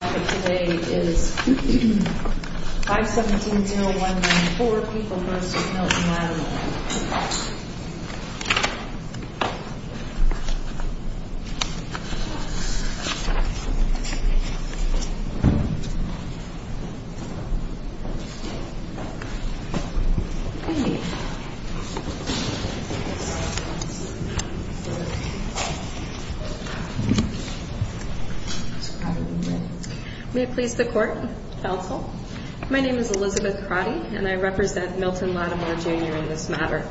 Today is 517-0114, People v. Milton-Lattimore May it please the Court, Counsel. My name is Elizabeth Crotty, and I represent Milton-Lattimore, Jr. in this matter.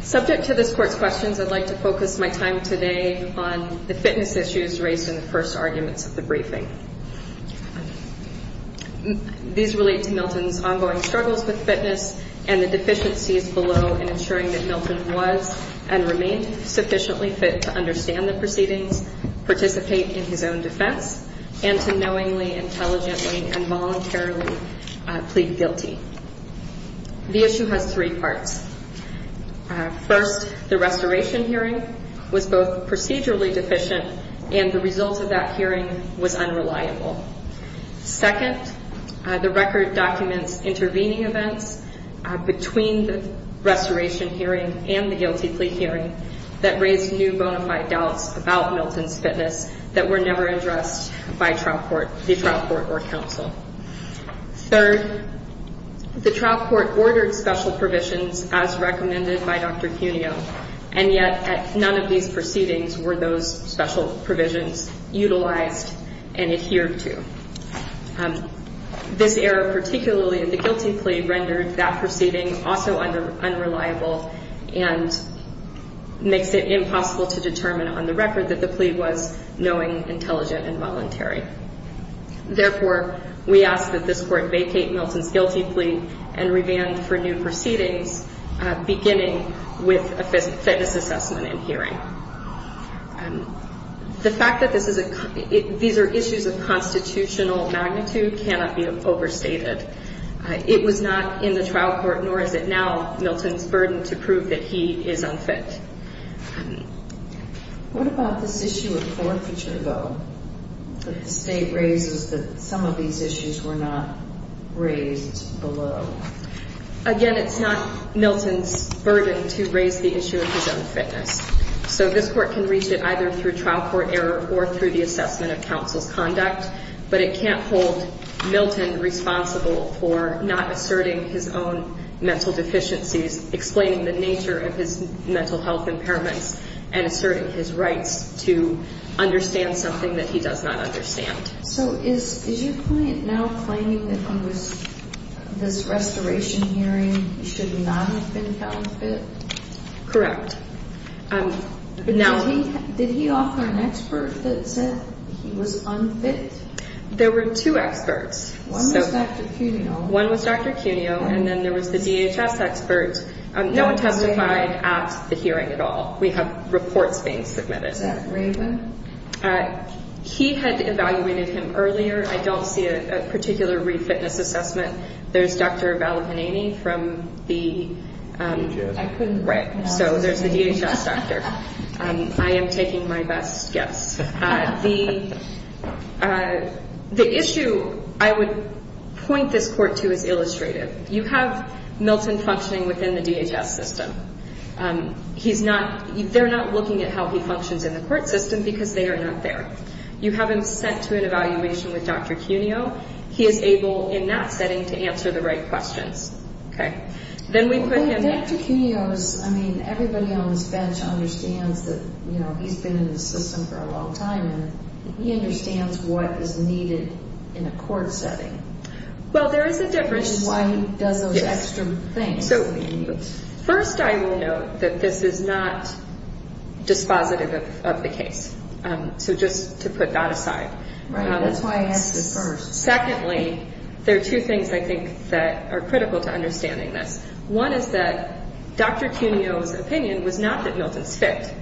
Subject to this Court's questions, I'd like to focus my time today on the fitness issues raised in the first arguments of the briefing. These relate to Milton's ongoing struggles with fitness and the deficiencies below in ensuring that Milton was and remained sufficiently fit to understand the proceedings, participate in his own defense, and to knowingly, intelligently, and voluntarily plead guilty. The issue has three parts. First, the restoration hearing was both procedurally deficient and the result of that hearing was unreliable. Second, the record documents intervening events between the restoration hearing and the guilty plea hearing that raised new bona fide doubts about Milton's fitness that were never addressed by the trial court or counsel. Third, the trial court ordered special provisions as recommended by Dr. Cuneo, and yet none of these proceedings were those special provisions utilized and adhered to. This error, particularly in the guilty plea, rendered that proceeding also unreliable and makes it impossible to determine on the record that the plea was knowing, intelligent, and voluntary. Therefore, we ask that this Court vacate Milton's guilty plea and revand for new proceedings beginning with a fitness assessment and hearing. The fact that these are issues of constitutional magnitude cannot be overstated. It was not in the trial court, nor is it now, Milton's burden to prove that he is unfit. What about this issue of forfeiture, though, that the State raises that some of these issues were not raised below? Again, it's not Milton's burden to raise the issue of his own fitness. So this Court can reach it either through trial court error or through the assessment of counsel's conduct, but it can't hold Milton responsible for not asserting his own mental deficiencies, explaining the nature of his mental health impairments, and asserting his rights to understand something that he does not understand. So is your client now claiming that under this restoration hearing he should not have been found fit? Correct. Did he offer an expert that said he was unfit? There were two experts. One was Dr. Cuneo. One was Dr. Cuneo, and then there was the DHS expert. No one testified at the hearing at all. We have reports being submitted. Is that Raven? He had evaluated him earlier. I don't see a particular re-fitness assessment. There's Dr. Vallabhaneni from the... Right, so there's the DHS doctor. I am taking my best guess. The issue I would point this Court to is illustrative. You have Milton functioning within the DHS system. They're not looking at how he functions in the court system because they are not there. You have him sent to an evaluation with Dr. Cuneo. He is able in that setting to answer the right questions. Dr. Cuneo, everybody on this bench understands that he's been in the system for a long time. He understands what is needed in a court setting. There is a difference. Why he does those extra things. First, I will note that this is not dispositive of the case. Just to put that aside. That's why I asked this first. Secondly, there are two things I think that are critical to understanding this. One is that Dr. Cuneo's opinion was not that Milton's fit.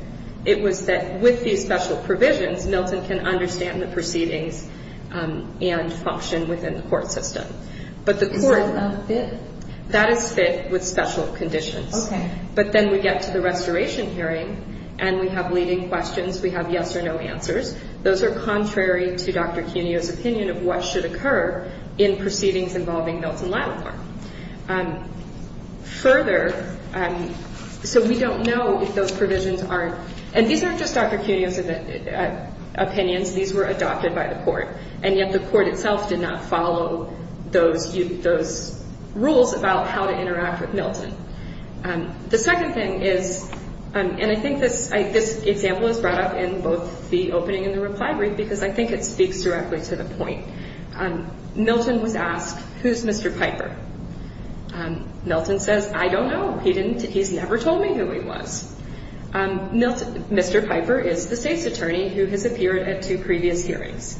It was that with these special provisions, Milton can understand the proceedings and function within the court system. Is that not fit? That is fit with special conditions. But then we get to the restoration hearing and we have leading questions. We have yes or no answers. Those are contrary to Dr. Cuneo's opinion of what should occur in proceedings involving Milton Lattimore. Further, so we don't know if those provisions aren't. And these aren't just Dr. Cuneo's opinions. These were adopted by the court. And yet the court itself did not follow those rules about how to interact with Milton. The second thing is, and I think this example is brought up in both the opening and the reply brief because I think it speaks directly to the point. Milton was asked, who's Mr. Piper? Milton says, I don't know. He's never told me who he was. Mr. Piper is the state's attorney who has appeared at two previous hearings.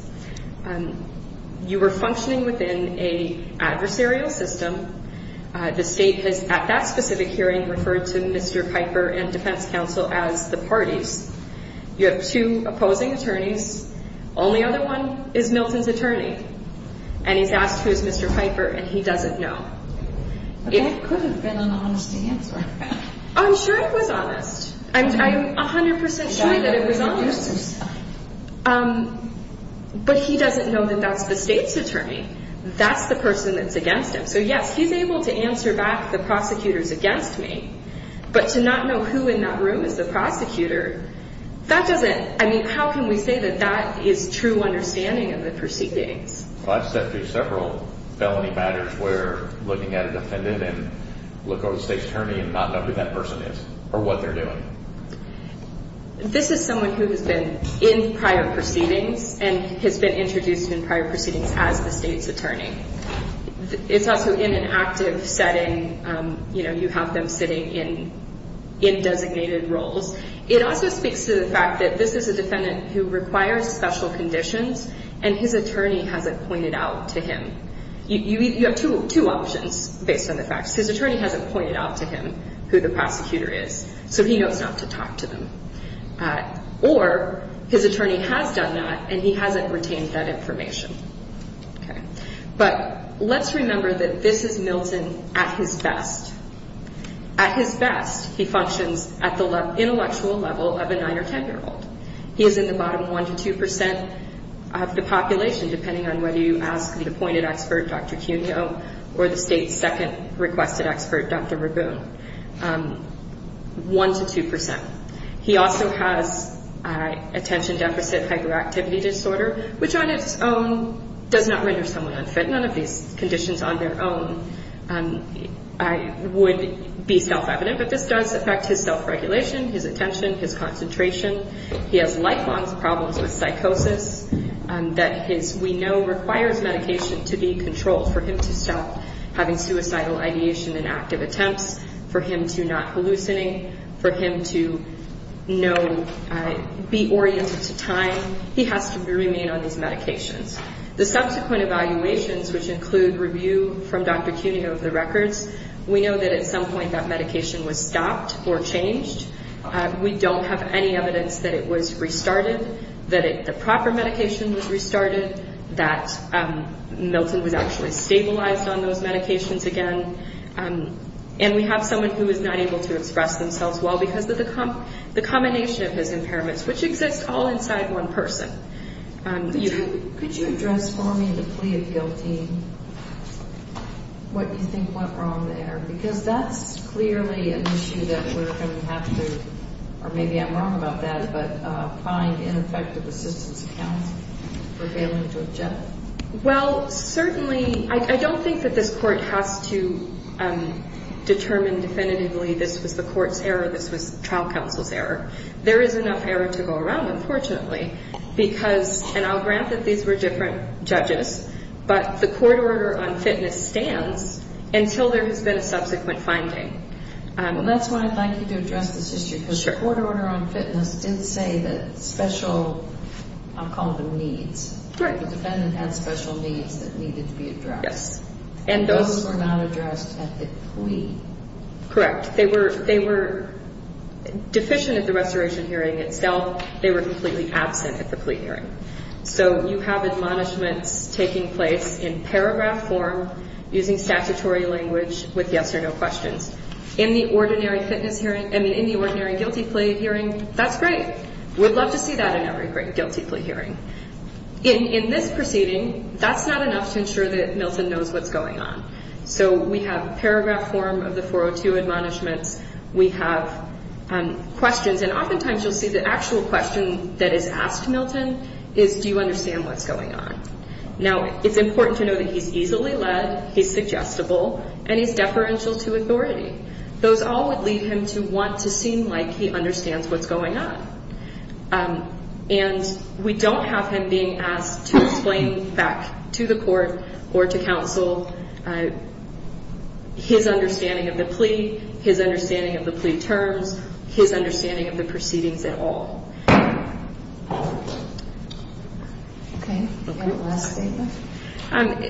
You were functioning within an adversarial system. The state has, at that specific hearing, referred to Mr. Piper and defense counsel as the parties. You have two opposing attorneys. Only other one is Milton's attorney. And he's asked who's Mr. Piper and he doesn't know. That could have been an honest answer. I'm sure it was honest. I'm 100% sure that it was honest. But he doesn't know that that's the state's attorney. That's the person that's against him. So, yes, he's able to answer back the prosecutors against me. But to not know who in that room is the prosecutor, that doesn't, I mean, how can we say that that is true understanding of the proceedings? Well, I've stepped through several felony matters where looking at a defendant and look over the state's attorney and not know who that person is or what they're doing. This is someone who has been in prior proceedings and has been introduced in prior proceedings as the state's attorney. It's also in an active setting, you know, you have them sitting in designated roles. It also speaks to the fact that this is a defendant who requires special conditions and his attorney hasn't pointed out to him. You have two options based on the facts. His attorney hasn't pointed out to him who the prosecutor is, so he knows not to talk to them. Or his attorney has done that and he hasn't retained that information. Okay. But let's remember that this is Milton at his best. At his best, he functions at the intellectual level of a 9- or 10-year-old. He is in the bottom 1 to 2 percent of the population, depending on whether you ask the appointed expert, Dr. Cuno, or the state's second requested expert, Dr. Rabun. 1 to 2 percent. He also has attention deficit hyperactivity disorder, which on its own does not render someone unfit. None of these conditions on their own would be self-evident. But this does affect his self-regulation, his attention, his concentration. He has lifelong problems with psychosis that we know requires medication to be controlled for him to stop having suicidal ideation and active attempts, for him to not hallucinate, for him to be oriented to time. He has to remain on these medications. The subsequent evaluations, which include review from Dr. Cuno of the records, we know that at some point that medication was stopped or changed. We don't have any evidence that it was restarted, that the proper medication was restarted, that Milton was actually stabilized on those medications again. And we have someone who is not able to express themselves well because of the combination of his impairments, which exist all inside one person. Could you address for me the plea of guilty, what you think went wrong there? Because that's clearly an issue that we're going to have to, or maybe I'm wrong about that, but find ineffective assistance accounts for failing to object. Well, certainly, I don't think that this court has to determine definitively this was the court's error, this was trial counsel's error. There is enough error to go around, unfortunately, because, and I'll grant that these were different judges, but the court order on fitness stands until there has been a subsequent finding. And that's why I'd like you to address this issue, because the court order on fitness didn't say that special, I'll call them needs. Right. The defendant had special needs that needed to be addressed. Yes. And those were not addressed at the plea. Correct. They were deficient at the restoration hearing itself. They were completely absent at the plea hearing. So you have admonishments taking place in paragraph form, using statutory language, with yes or no questions. In the ordinary fitness hearing, I mean, in the ordinary guilty plea hearing, that's great. We'd love to see that in every great guilty plea hearing. In this proceeding, that's not enough to ensure that Milton knows what's going on. So we have paragraph form of the 402 admonishments, we have questions, and oftentimes you'll see the actual question that is asked to Milton is, do you understand what's going on? Now, it's important to know that he's easily led, he's suggestible, and he's deferential to authority. Those all would lead him to want to seem like he understands what's going on. And we don't have him being asked to explain back to the court or to counsel his understanding of the plea, his understanding of the plea terms, his understanding of the proceedings at all. Okay. Any last statements?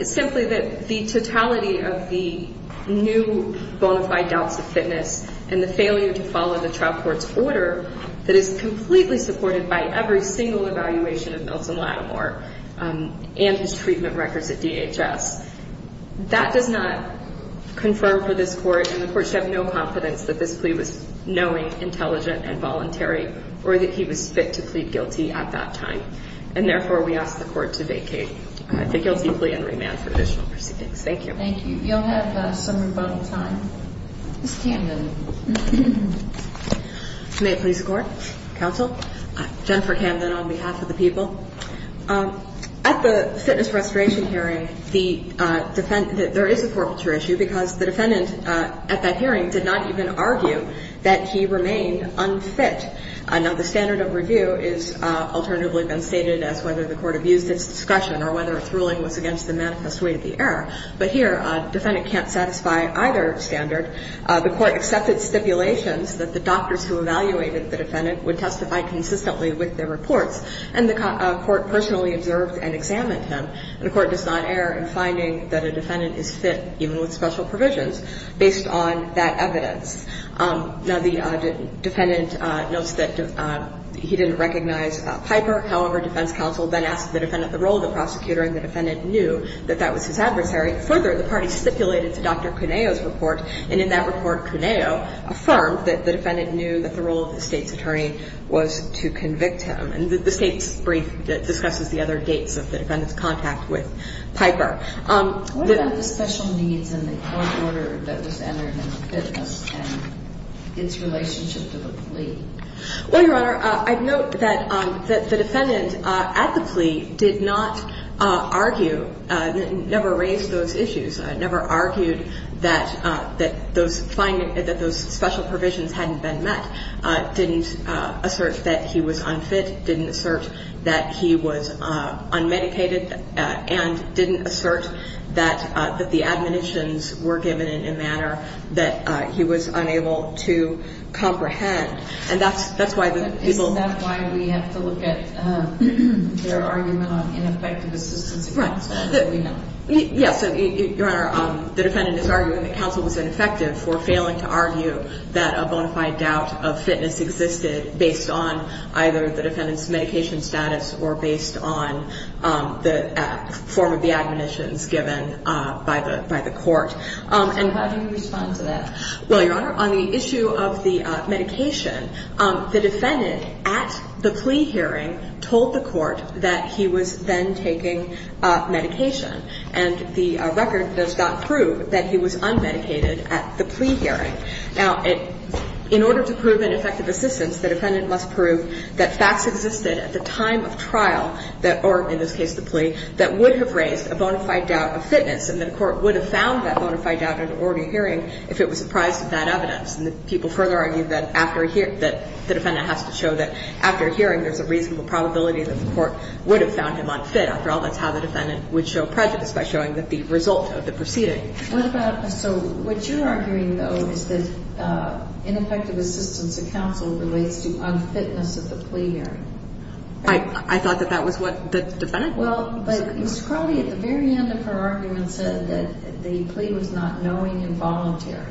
Simply that the totality of the new bona fide doubts of fitness and the failure to follow the trial court's order that is completely supported by every single evaluation of Milton Lattimore and his treatment records at DHS, that does not confirm for this court, and the court should have no confidence that this plea was knowing, intelligent, and voluntary, or that he was fit to plead guilty at that time. And therefore, we ask the court to vacate the guilty plea and remand for additional proceedings. Thank you. Thank you. You'll have some rebuttal time. Ms. Camden. May it please the Court? Counsel? Jennifer Camden on behalf of the people. At the fitness restoration hearing, there is a corporature issue, because the defendant at that hearing did not even argue that he remained unfit. Now, the standard of review has alternatively been stated as whether the court abused its discussion or whether its ruling was against the manifest way of the error. But here, the defendant can't satisfy either standard. The court accepted stipulations that the doctors who evaluated the defendant would testify consistently with their reports, and the court personally observed and examined him, and the court does not err in finding that a defendant is fit, even with special provisions, based on that evidence. Now, the defendant notes that he didn't recognize Piper. However, defense counsel then asked the defendant the role of the prosecutor, and the defendant knew that that was his adversary. Further, the party stipulated to Dr. Cuneo's report, and in that report, Cuneo affirmed that the defendant knew that the role of the state's attorney was to convict him. And the state's brief discusses the other dates of the defendant's contact with Piper. What about the special needs in the court order that was entered in the fitness and its relationship to the plea? Well, Your Honor, I'd note that the defendant at the plea did not argue, never raised those issues, never argued that those special provisions hadn't been met, didn't assert that he was unfit, didn't assert that he was unmedicated, and didn't assert that the admonitions were given in a manner that he was unable to comprehend. And that's why the people… Isn't that why we have to look at your argument on ineffective assistance counsel? Right. Yes. So, Your Honor, the defendant is arguing that counsel was ineffective for failing to argue that a bona fide doubt of fitness existed based on either the defendant's medication status or based on the form of the admonitions given by the court. And how do you respond to that? Well, Your Honor, on the issue of the medication, the defendant at the plea hearing told the court that he was then taking medication. And the record does not prove that he was unmedicated at the plea hearing. Now, in order to prove ineffective assistance, the defendant must prove that facts existed at the time of trial, or in this case, the plea, that would have raised a bona fide doubt of fitness and that a court would have found that bona fide doubt at an ordinary hearing if it was surprised at that evidence. And the people further argue that the defendant has to show that after a hearing there's a reasonable probability that the court would have found him unfit. After all, that's how the defendant would show prejudice, by showing that the result of the proceeding. So what you're arguing, though, is that ineffective assistance to counsel relates to unfitness at the plea hearing. I thought that that was what the defendant was. Well, but Ms. Crowley, at the very end of her argument, said that the plea was not knowing and voluntary.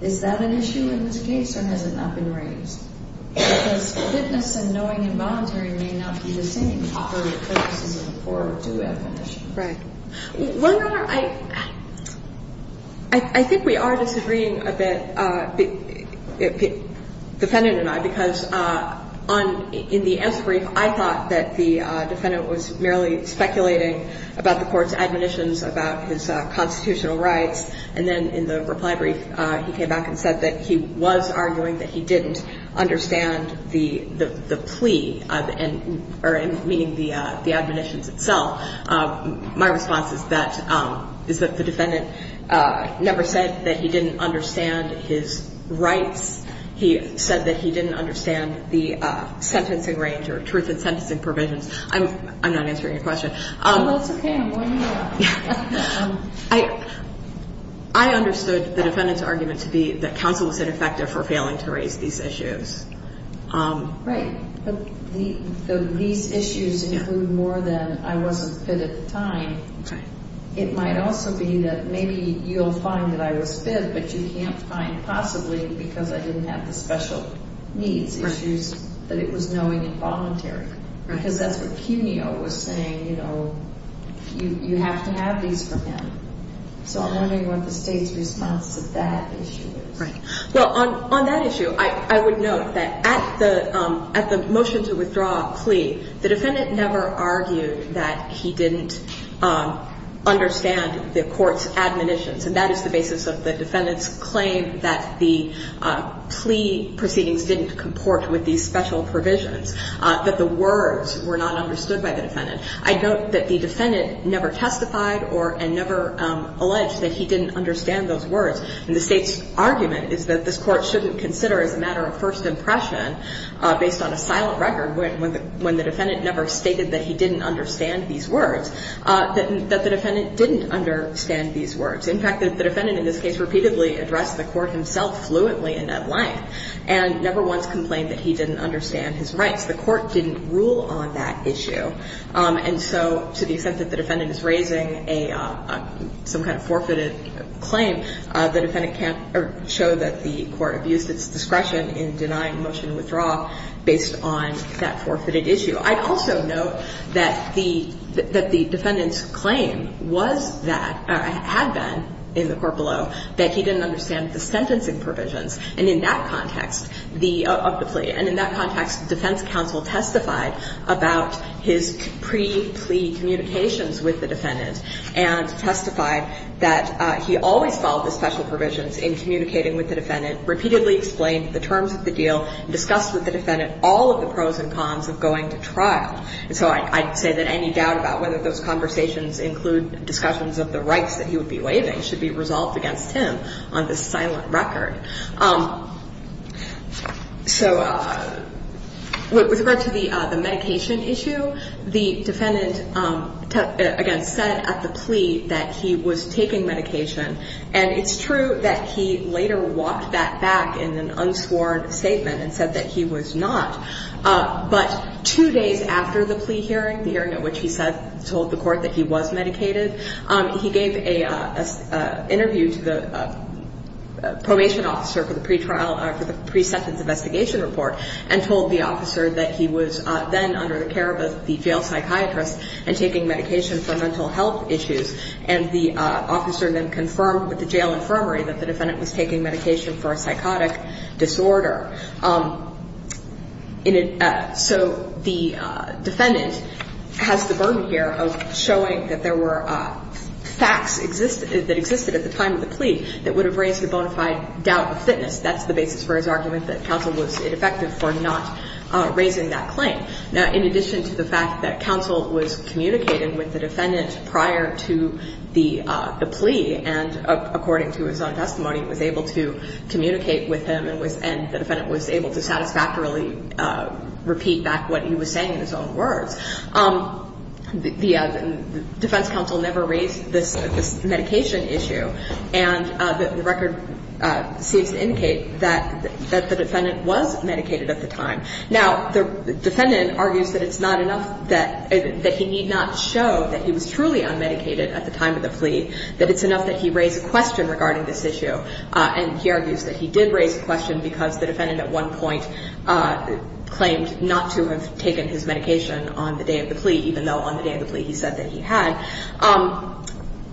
Is that an issue in this case, or has it not been raised? Because fitness and knowing and voluntary may not be the same Right. Well, Your Honor, I think we are disagreeing a bit, defendant and I, because in the answer brief I thought that the defendant was merely speculating about the court's admonitions about his constitutional rights, and then in the reply brief he came back and said that he was arguing that he didn't understand the plea, meaning the admonitions itself. My response is that the defendant never said that he didn't understand his rights. He said that he didn't understand the sentencing range or truth in sentencing provisions. I'm not answering your question. Oh, that's okay. I'm winding you up. I understood the defendant's argument to be that counsel was ineffective or failing to raise these issues. Right, but these issues include more than I wasn't fit at the time. It might also be that maybe you'll find that I was fit, but you can't find possibly because I didn't have the special needs issues that it was knowing and voluntary, because that's what Cuneo was saying, you know, you have to have these for him. So I'm wondering what the State's response to that issue is. Right. Well, on that issue, I would note that at the motion to withdraw a plea, the defendant never argued that he didn't understand the court's admonitions, and that is the basis of the defendant's claim that the plea proceedings didn't comport with these special provisions, that the words were not understood by the defendant. I note that the defendant never testified and never alleged that he didn't understand those words. And the State's argument is that this court shouldn't consider, as a matter of first impression, based on a silent record, when the defendant never stated that he didn't understand these words, that the defendant didn't understand these words. In fact, the defendant, in this case, repeatedly addressed the court himself fluently in that light and never once complained that he didn't understand his rights. The court didn't rule on that issue. And so to the extent that the defendant is raising some kind of forfeited claim, the defendant can't show that the court abused its discretion in denying the motion to withdraw based on that forfeited issue. I'd also note that the defendant's claim was that, or had been in the court below, that he didn't understand the sentencing provisions of the plea. And in that context, and testified that he always followed the special provisions in communicating with the defendant, repeatedly explained the terms of the deal, discussed with the defendant all of the pros and cons of going to trial. And so I'd say that any doubt about whether those conversations include discussions of the rights that he would be waiving should be resolved against him on this silent record. So with regard to the medication issue, the defendant, again, said at the plea that he was taking medication. And it's true that he later walked that back in an unsworn statement and said that he was not. But two days after the plea hearing, the hearing at which he told the court that he was medicated, he gave an interview to the probation officer for the pre-sentence investigation report and told the officer that he was then under the care of the jail psychiatrist and taking medication for mental health issues. And the officer then confirmed with the jail infirmary that the defendant was taking medication for a psychotic disorder. So the defendant has the burden here of showing that there were facts that existed at the time of the plea that would have raised the bona fide doubt of fitness. That's the basis for his argument that counsel was ineffective for not raising that claim. Now, in addition to the fact that counsel was communicating with the defendant prior to the plea and according to his own testimony was able to communicate with him and the defendant was able to satisfactorily repeat back what he was saying in his own words, the defense counsel never raised this medication issue. And the record seems to indicate that the defendant was medicated at the time. Now, the defendant argues that it's not enough that he need not show that he was truly unmedicated at the time of the plea, that it's enough that he raise a question regarding this issue. And he argues that he did raise a question because the defendant at one point claimed not to have taken his medication on the day of the plea even though on the day of the plea he said that he had.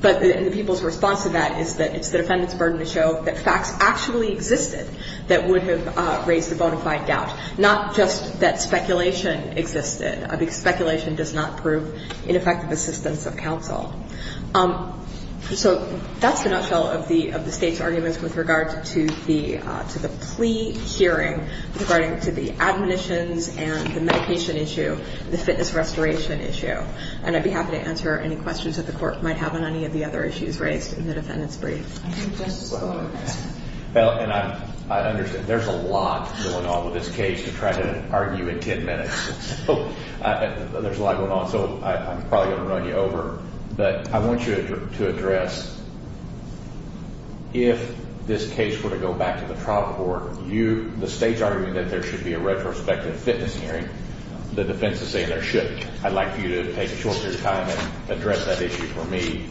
But the people's response to that is that it's the defendant's burden to show that facts actually existed that would have raised the bona fide doubt, not just that speculation existed. Speculation does not prove ineffective assistance of counsel. So that's the nutshell of the State's arguments with regard to the plea hearing regarding to the admonitions and the medication issue, the fitness restoration issue. And I'd be happy to answer any questions that the court might have on any of the other issues raised in the defendant's brief. Well, and I understand there's a lot going on with this case to try to argue in 10 minutes. So there's a lot going on. So I'm probably going to run you over. But I want you to address if this case were to go back to the trial court, the State's arguing that there should be a retrospective fitness hearing. The defense is saying there should be. And I'd like you to take a shorter time and address that issue for me.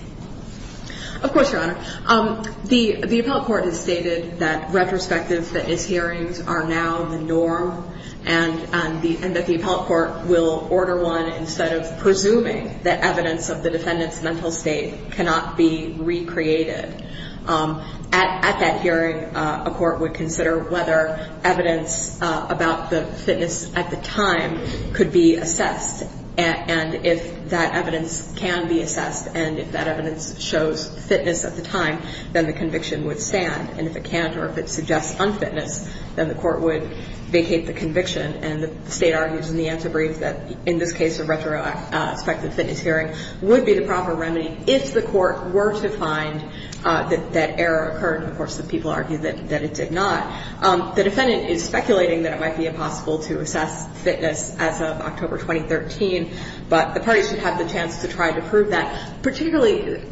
Of course, Your Honor. The appellate court has stated that retrospective fitness hearings are now the norm and that the appellate court will order one instead of presuming that evidence of the defendant's mental state cannot be recreated. At that hearing, a court would consider whether evidence about the fitness at the time could be assessed. And if that evidence can be assessed and if that evidence shows fitness at the time, then the conviction would stand. And if it can't or if it suggests unfitness, then the court would vacate the conviction. And the State argues in the answer brief that in this case, a retrospective fitness hearing would be the proper remedy if the court were to find that error occurred. Of course, some people argue that it did not. The defendant is speculating that it might be impossible to assess fitness as of October 2013, but the parties should have the chance to try to prove that, particularly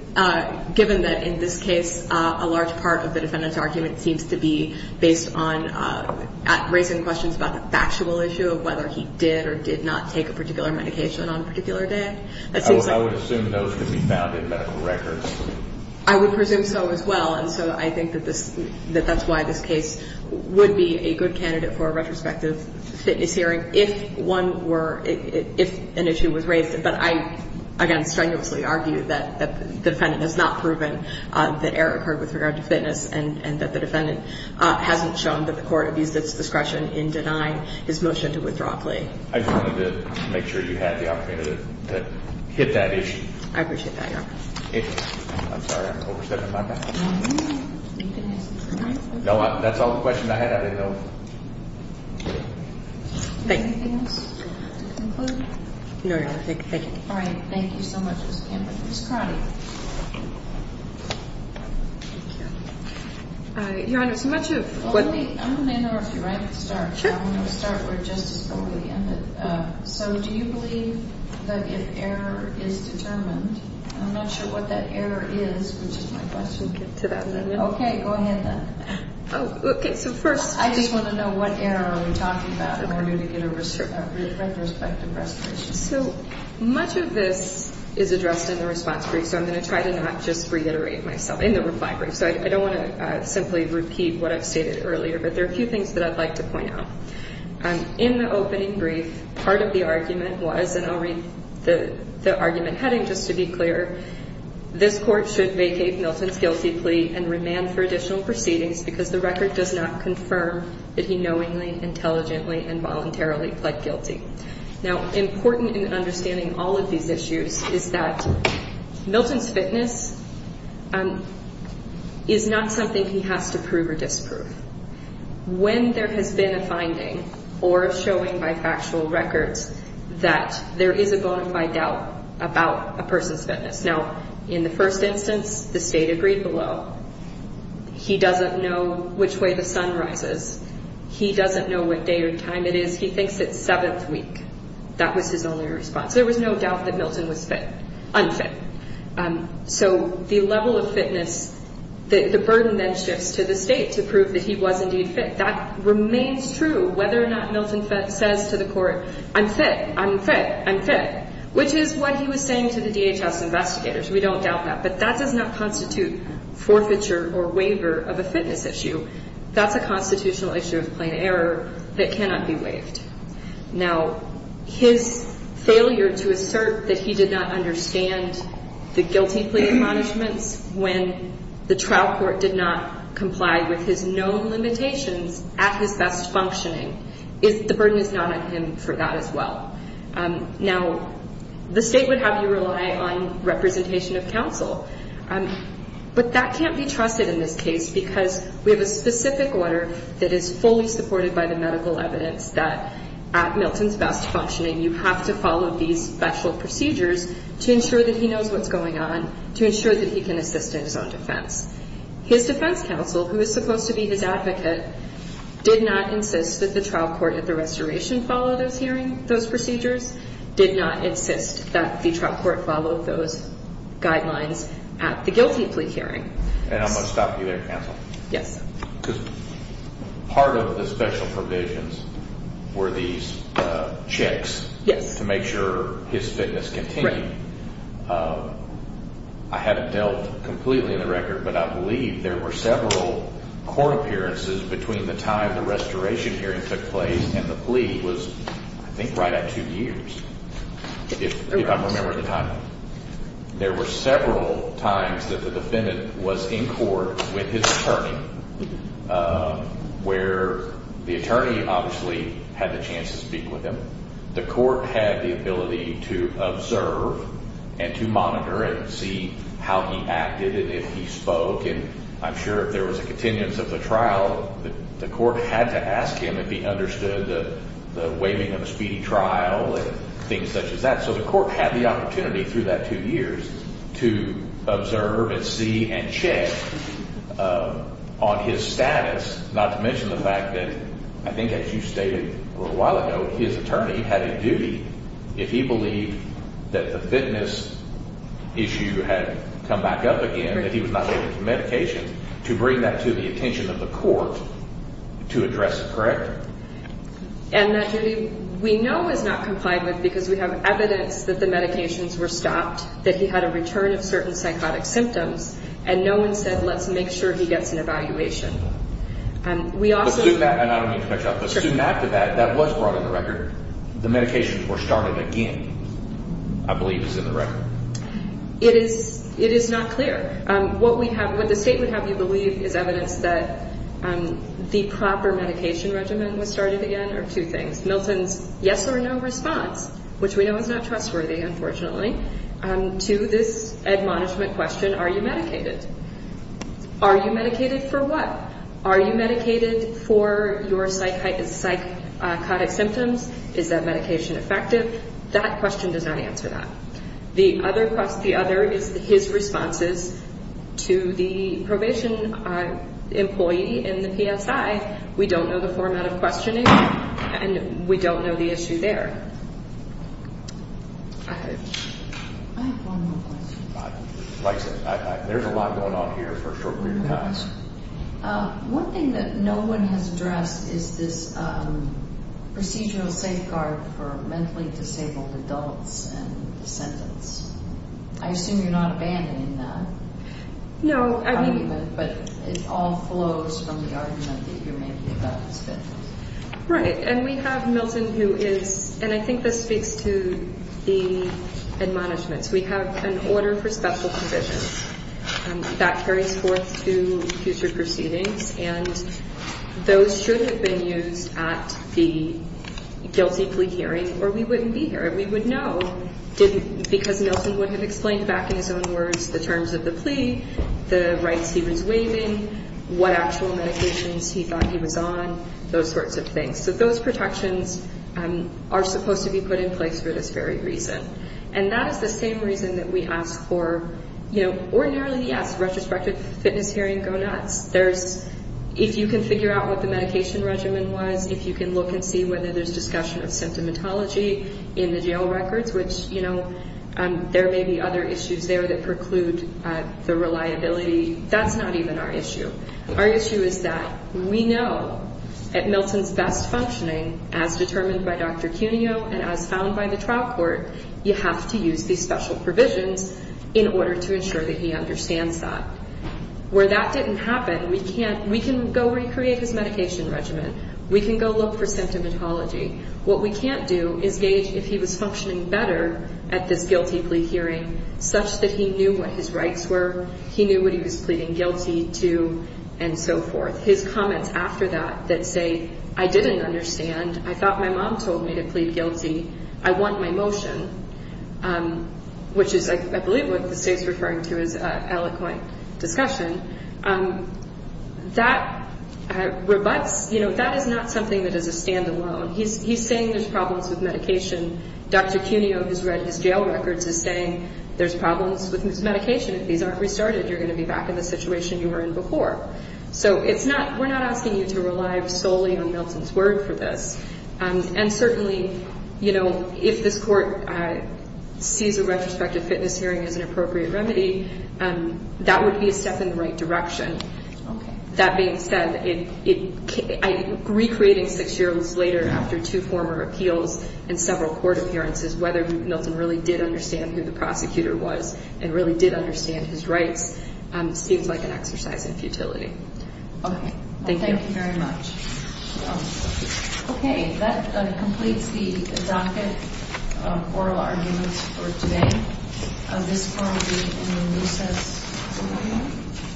given that in this case, a large part of the defendant's argument seems to be based on raising questions about the factual issue of whether he did or did not take a particular medication on a particular day. I would assume those could be found in medical records. I would presume so as well. And so I think that this – that that's why this case would be a good candidate for a retrospective fitness hearing if one were – if an issue was raised. But I, again, strenuously argue that the defendant has not proven that error occurred with regard to fitness and that the defendant hasn't shown that the court abused its discretion in denying his motion to withdraw plea. I just wanted to make sure you had the opportunity to hit that issue. I appreciate that, Your Honor. Thank you. I'm sorry, I'm overstepping my bounds. No, you're not. Thank goodness. No, that's all the questions I had. I didn't know. Thank you. Anything else to conclude? No, no, thank you. All right. Thank you so much, Ms. Campbell. Ms. Crotty. Thank you. Your Honor, so much of what – I'm going to interrupt you right at the start. Sure. I'm going to start where Justice Sotomayor ended. So do you believe that if error is determined – I'm not sure what that error is, which is my question. Okay, go ahead then. Oh, okay. So first – I just want to know what error are we talking about in order to get a retrospective resolution. So much of this is addressed in the response brief, so I'm going to try to not just reiterate myself in the reply brief. So I don't want to simply repeat what I've stated earlier, but there are a few things that I'd like to point out. In the opening brief, part of the argument was – and I'll read the argument heading just to be clear – this Court should vacate Milton's guilty plea and remand for additional proceedings because the record does not confirm that he knowingly, intelligently, and voluntarily pled guilty. Now, important in understanding all of these issues is that Milton's fitness is not something he has to prove or disprove. When there has been a finding or showing by factual records that there is a bona fide doubt about a person's fitness – now, in the first instance, the State agreed below. He doesn't know which way the sun rises. He doesn't know what day or time it is. He thinks it's seventh week. That was his only response. There was no doubt that Milton was fit – unfit. So the level of fitness – the burden then shifts to the State to prove that he was indeed fit. That remains true whether or not Milton says to the Court, I'm fit, I'm fit, I'm fit, which is what he was saying to the DHS investigators. We don't doubt that. But that does not constitute forfeiture or waiver of a fitness issue. That's a constitutional issue of plain error that cannot be waived. Now, his failure to assert that he did not understand the guilty plea accomplishments when the trial court did not comply with his known limitations at his best functioning – the burden is not on him for that as well. Now, the State would have you rely on representation of counsel. But that can't be trusted in this case because we have a specific order that is fully supported by the medical evidence that at Milton's best functioning, you have to follow these special procedures to ensure that he knows what's going on, to ensure that he can assist in his own defense. His defense counsel, who is supposed to be his advocate, did not insist that the trial court at the restoration follow those hearing – those procedures, did not insist that the trial court follow those guidelines at the guilty plea hearing. And I'm going to stop you there, counsel. Yes. Because part of the special provisions were these checks to make sure his fitness continued. Right. I haven't dealt completely in the record, but I believe there were several court appearances between the time the restoration hearing took place and the plea was, I think, right at two years, if I'm remembering the time. There were several times that the defendant was in court with his attorney, where the attorney obviously had the chance to speak with him. The court had the ability to observe and to monitor and see how he acted and if he spoke. And I'm sure if there was a continuance of the trial, the court had to ask him if he understood the waiving of the speedy trial and things such as that. So the court had the opportunity through that two years to observe and see and check on his status, not to mention the fact that I think, as you stated a little while ago, his attorney had a duty if he believed that the fitness issue had come back up again, that he was not looking for medication, to bring that to the attention of the court to address it. Correct? And that duty we know is not complied with because we have evidence that the medications were stopped, that he had a return of certain psychotic symptoms, and no one said, let's make sure he gets an evaluation. And I don't mean to cut you off, but soon after that, that was brought in the record. The medications were started again, I believe is in the record. It is not clear. What we have, what the state would have you believe is evidence that the proper medication regimen was started again are two things. Milton's yes or no response, which we know is not trustworthy, unfortunately, to this Ed. Management question, are you medicated? Are you medicated for what? Are you medicated for your psychotic symptoms? Is that medication effective? That question does not answer that. The other is his responses to the probation employee in the PSI. We don't know the format of questioning, and we don't know the issue there. I have one more question. There's a lot going on here for a short period of time. One thing that no one has addressed is this procedural safeguard for mentally disabled adults and descendants. I assume you're not abandoning that argument, but it all flows from the argument that you're making about his fitness. Right, and we have Milton who is, and I think this speaks to the Ed. We have an order for special provisions. That carries forth to future proceedings, and those should have been used at the guilty plea hearing, or we wouldn't be here. We would know because Milton would have explained back in his own words the terms of the plea, the rights he was waiving, what actual medications he thought he was on, those sorts of things. So those protections are supposed to be put in place for this very reason. And that is the same reason that we ask for, you know, ordinarily, yes, retrospective fitness hearing, go nuts. If you can figure out what the medication regimen was, if you can look and see whether there's discussion of symptomatology in the jail records, which, you know, there may be other issues there that preclude the reliability, that's not even our issue. Our issue is that we know that Milton's best functioning, as determined by Dr. Cuneo and as found by the trial court, you have to use these special provisions in order to ensure that he understands that. Where that didn't happen, we can't, we can go recreate his medication regimen. We can go look for symptomatology. What we can't do is gauge if he was functioning better at this guilty plea hearing such that he knew what his rights were, he knew what he was pleading guilty to, and so forth. His comments after that that say, I didn't understand, I thought my mom told me to plead guilty, I want my motion, which is, I believe, what the State's referring to as eloquent discussion, that rebutts, you know, that is not something that is a standalone. He's saying there's problems with medication. Dr. Cuneo, who's read his jail records, is saying there's problems with his medication. If these aren't restarted, you're going to be back in the situation you were in before. So it's not, we're not asking you to rely solely on Milton's word for this. And certainly, you know, if this court sees a retrospective fitness hearing as an appropriate remedy, that would be a step in the right direction. That being said, recreating six years later after two former appeals and several court appearances, whether Milton really did understand who the prosecutor was and really did understand his rights, seems like an exercise in futility. Okay. Thank you. Thank you very much. Okay, that completes the docket oral arguments for today. This forum will be in the recess.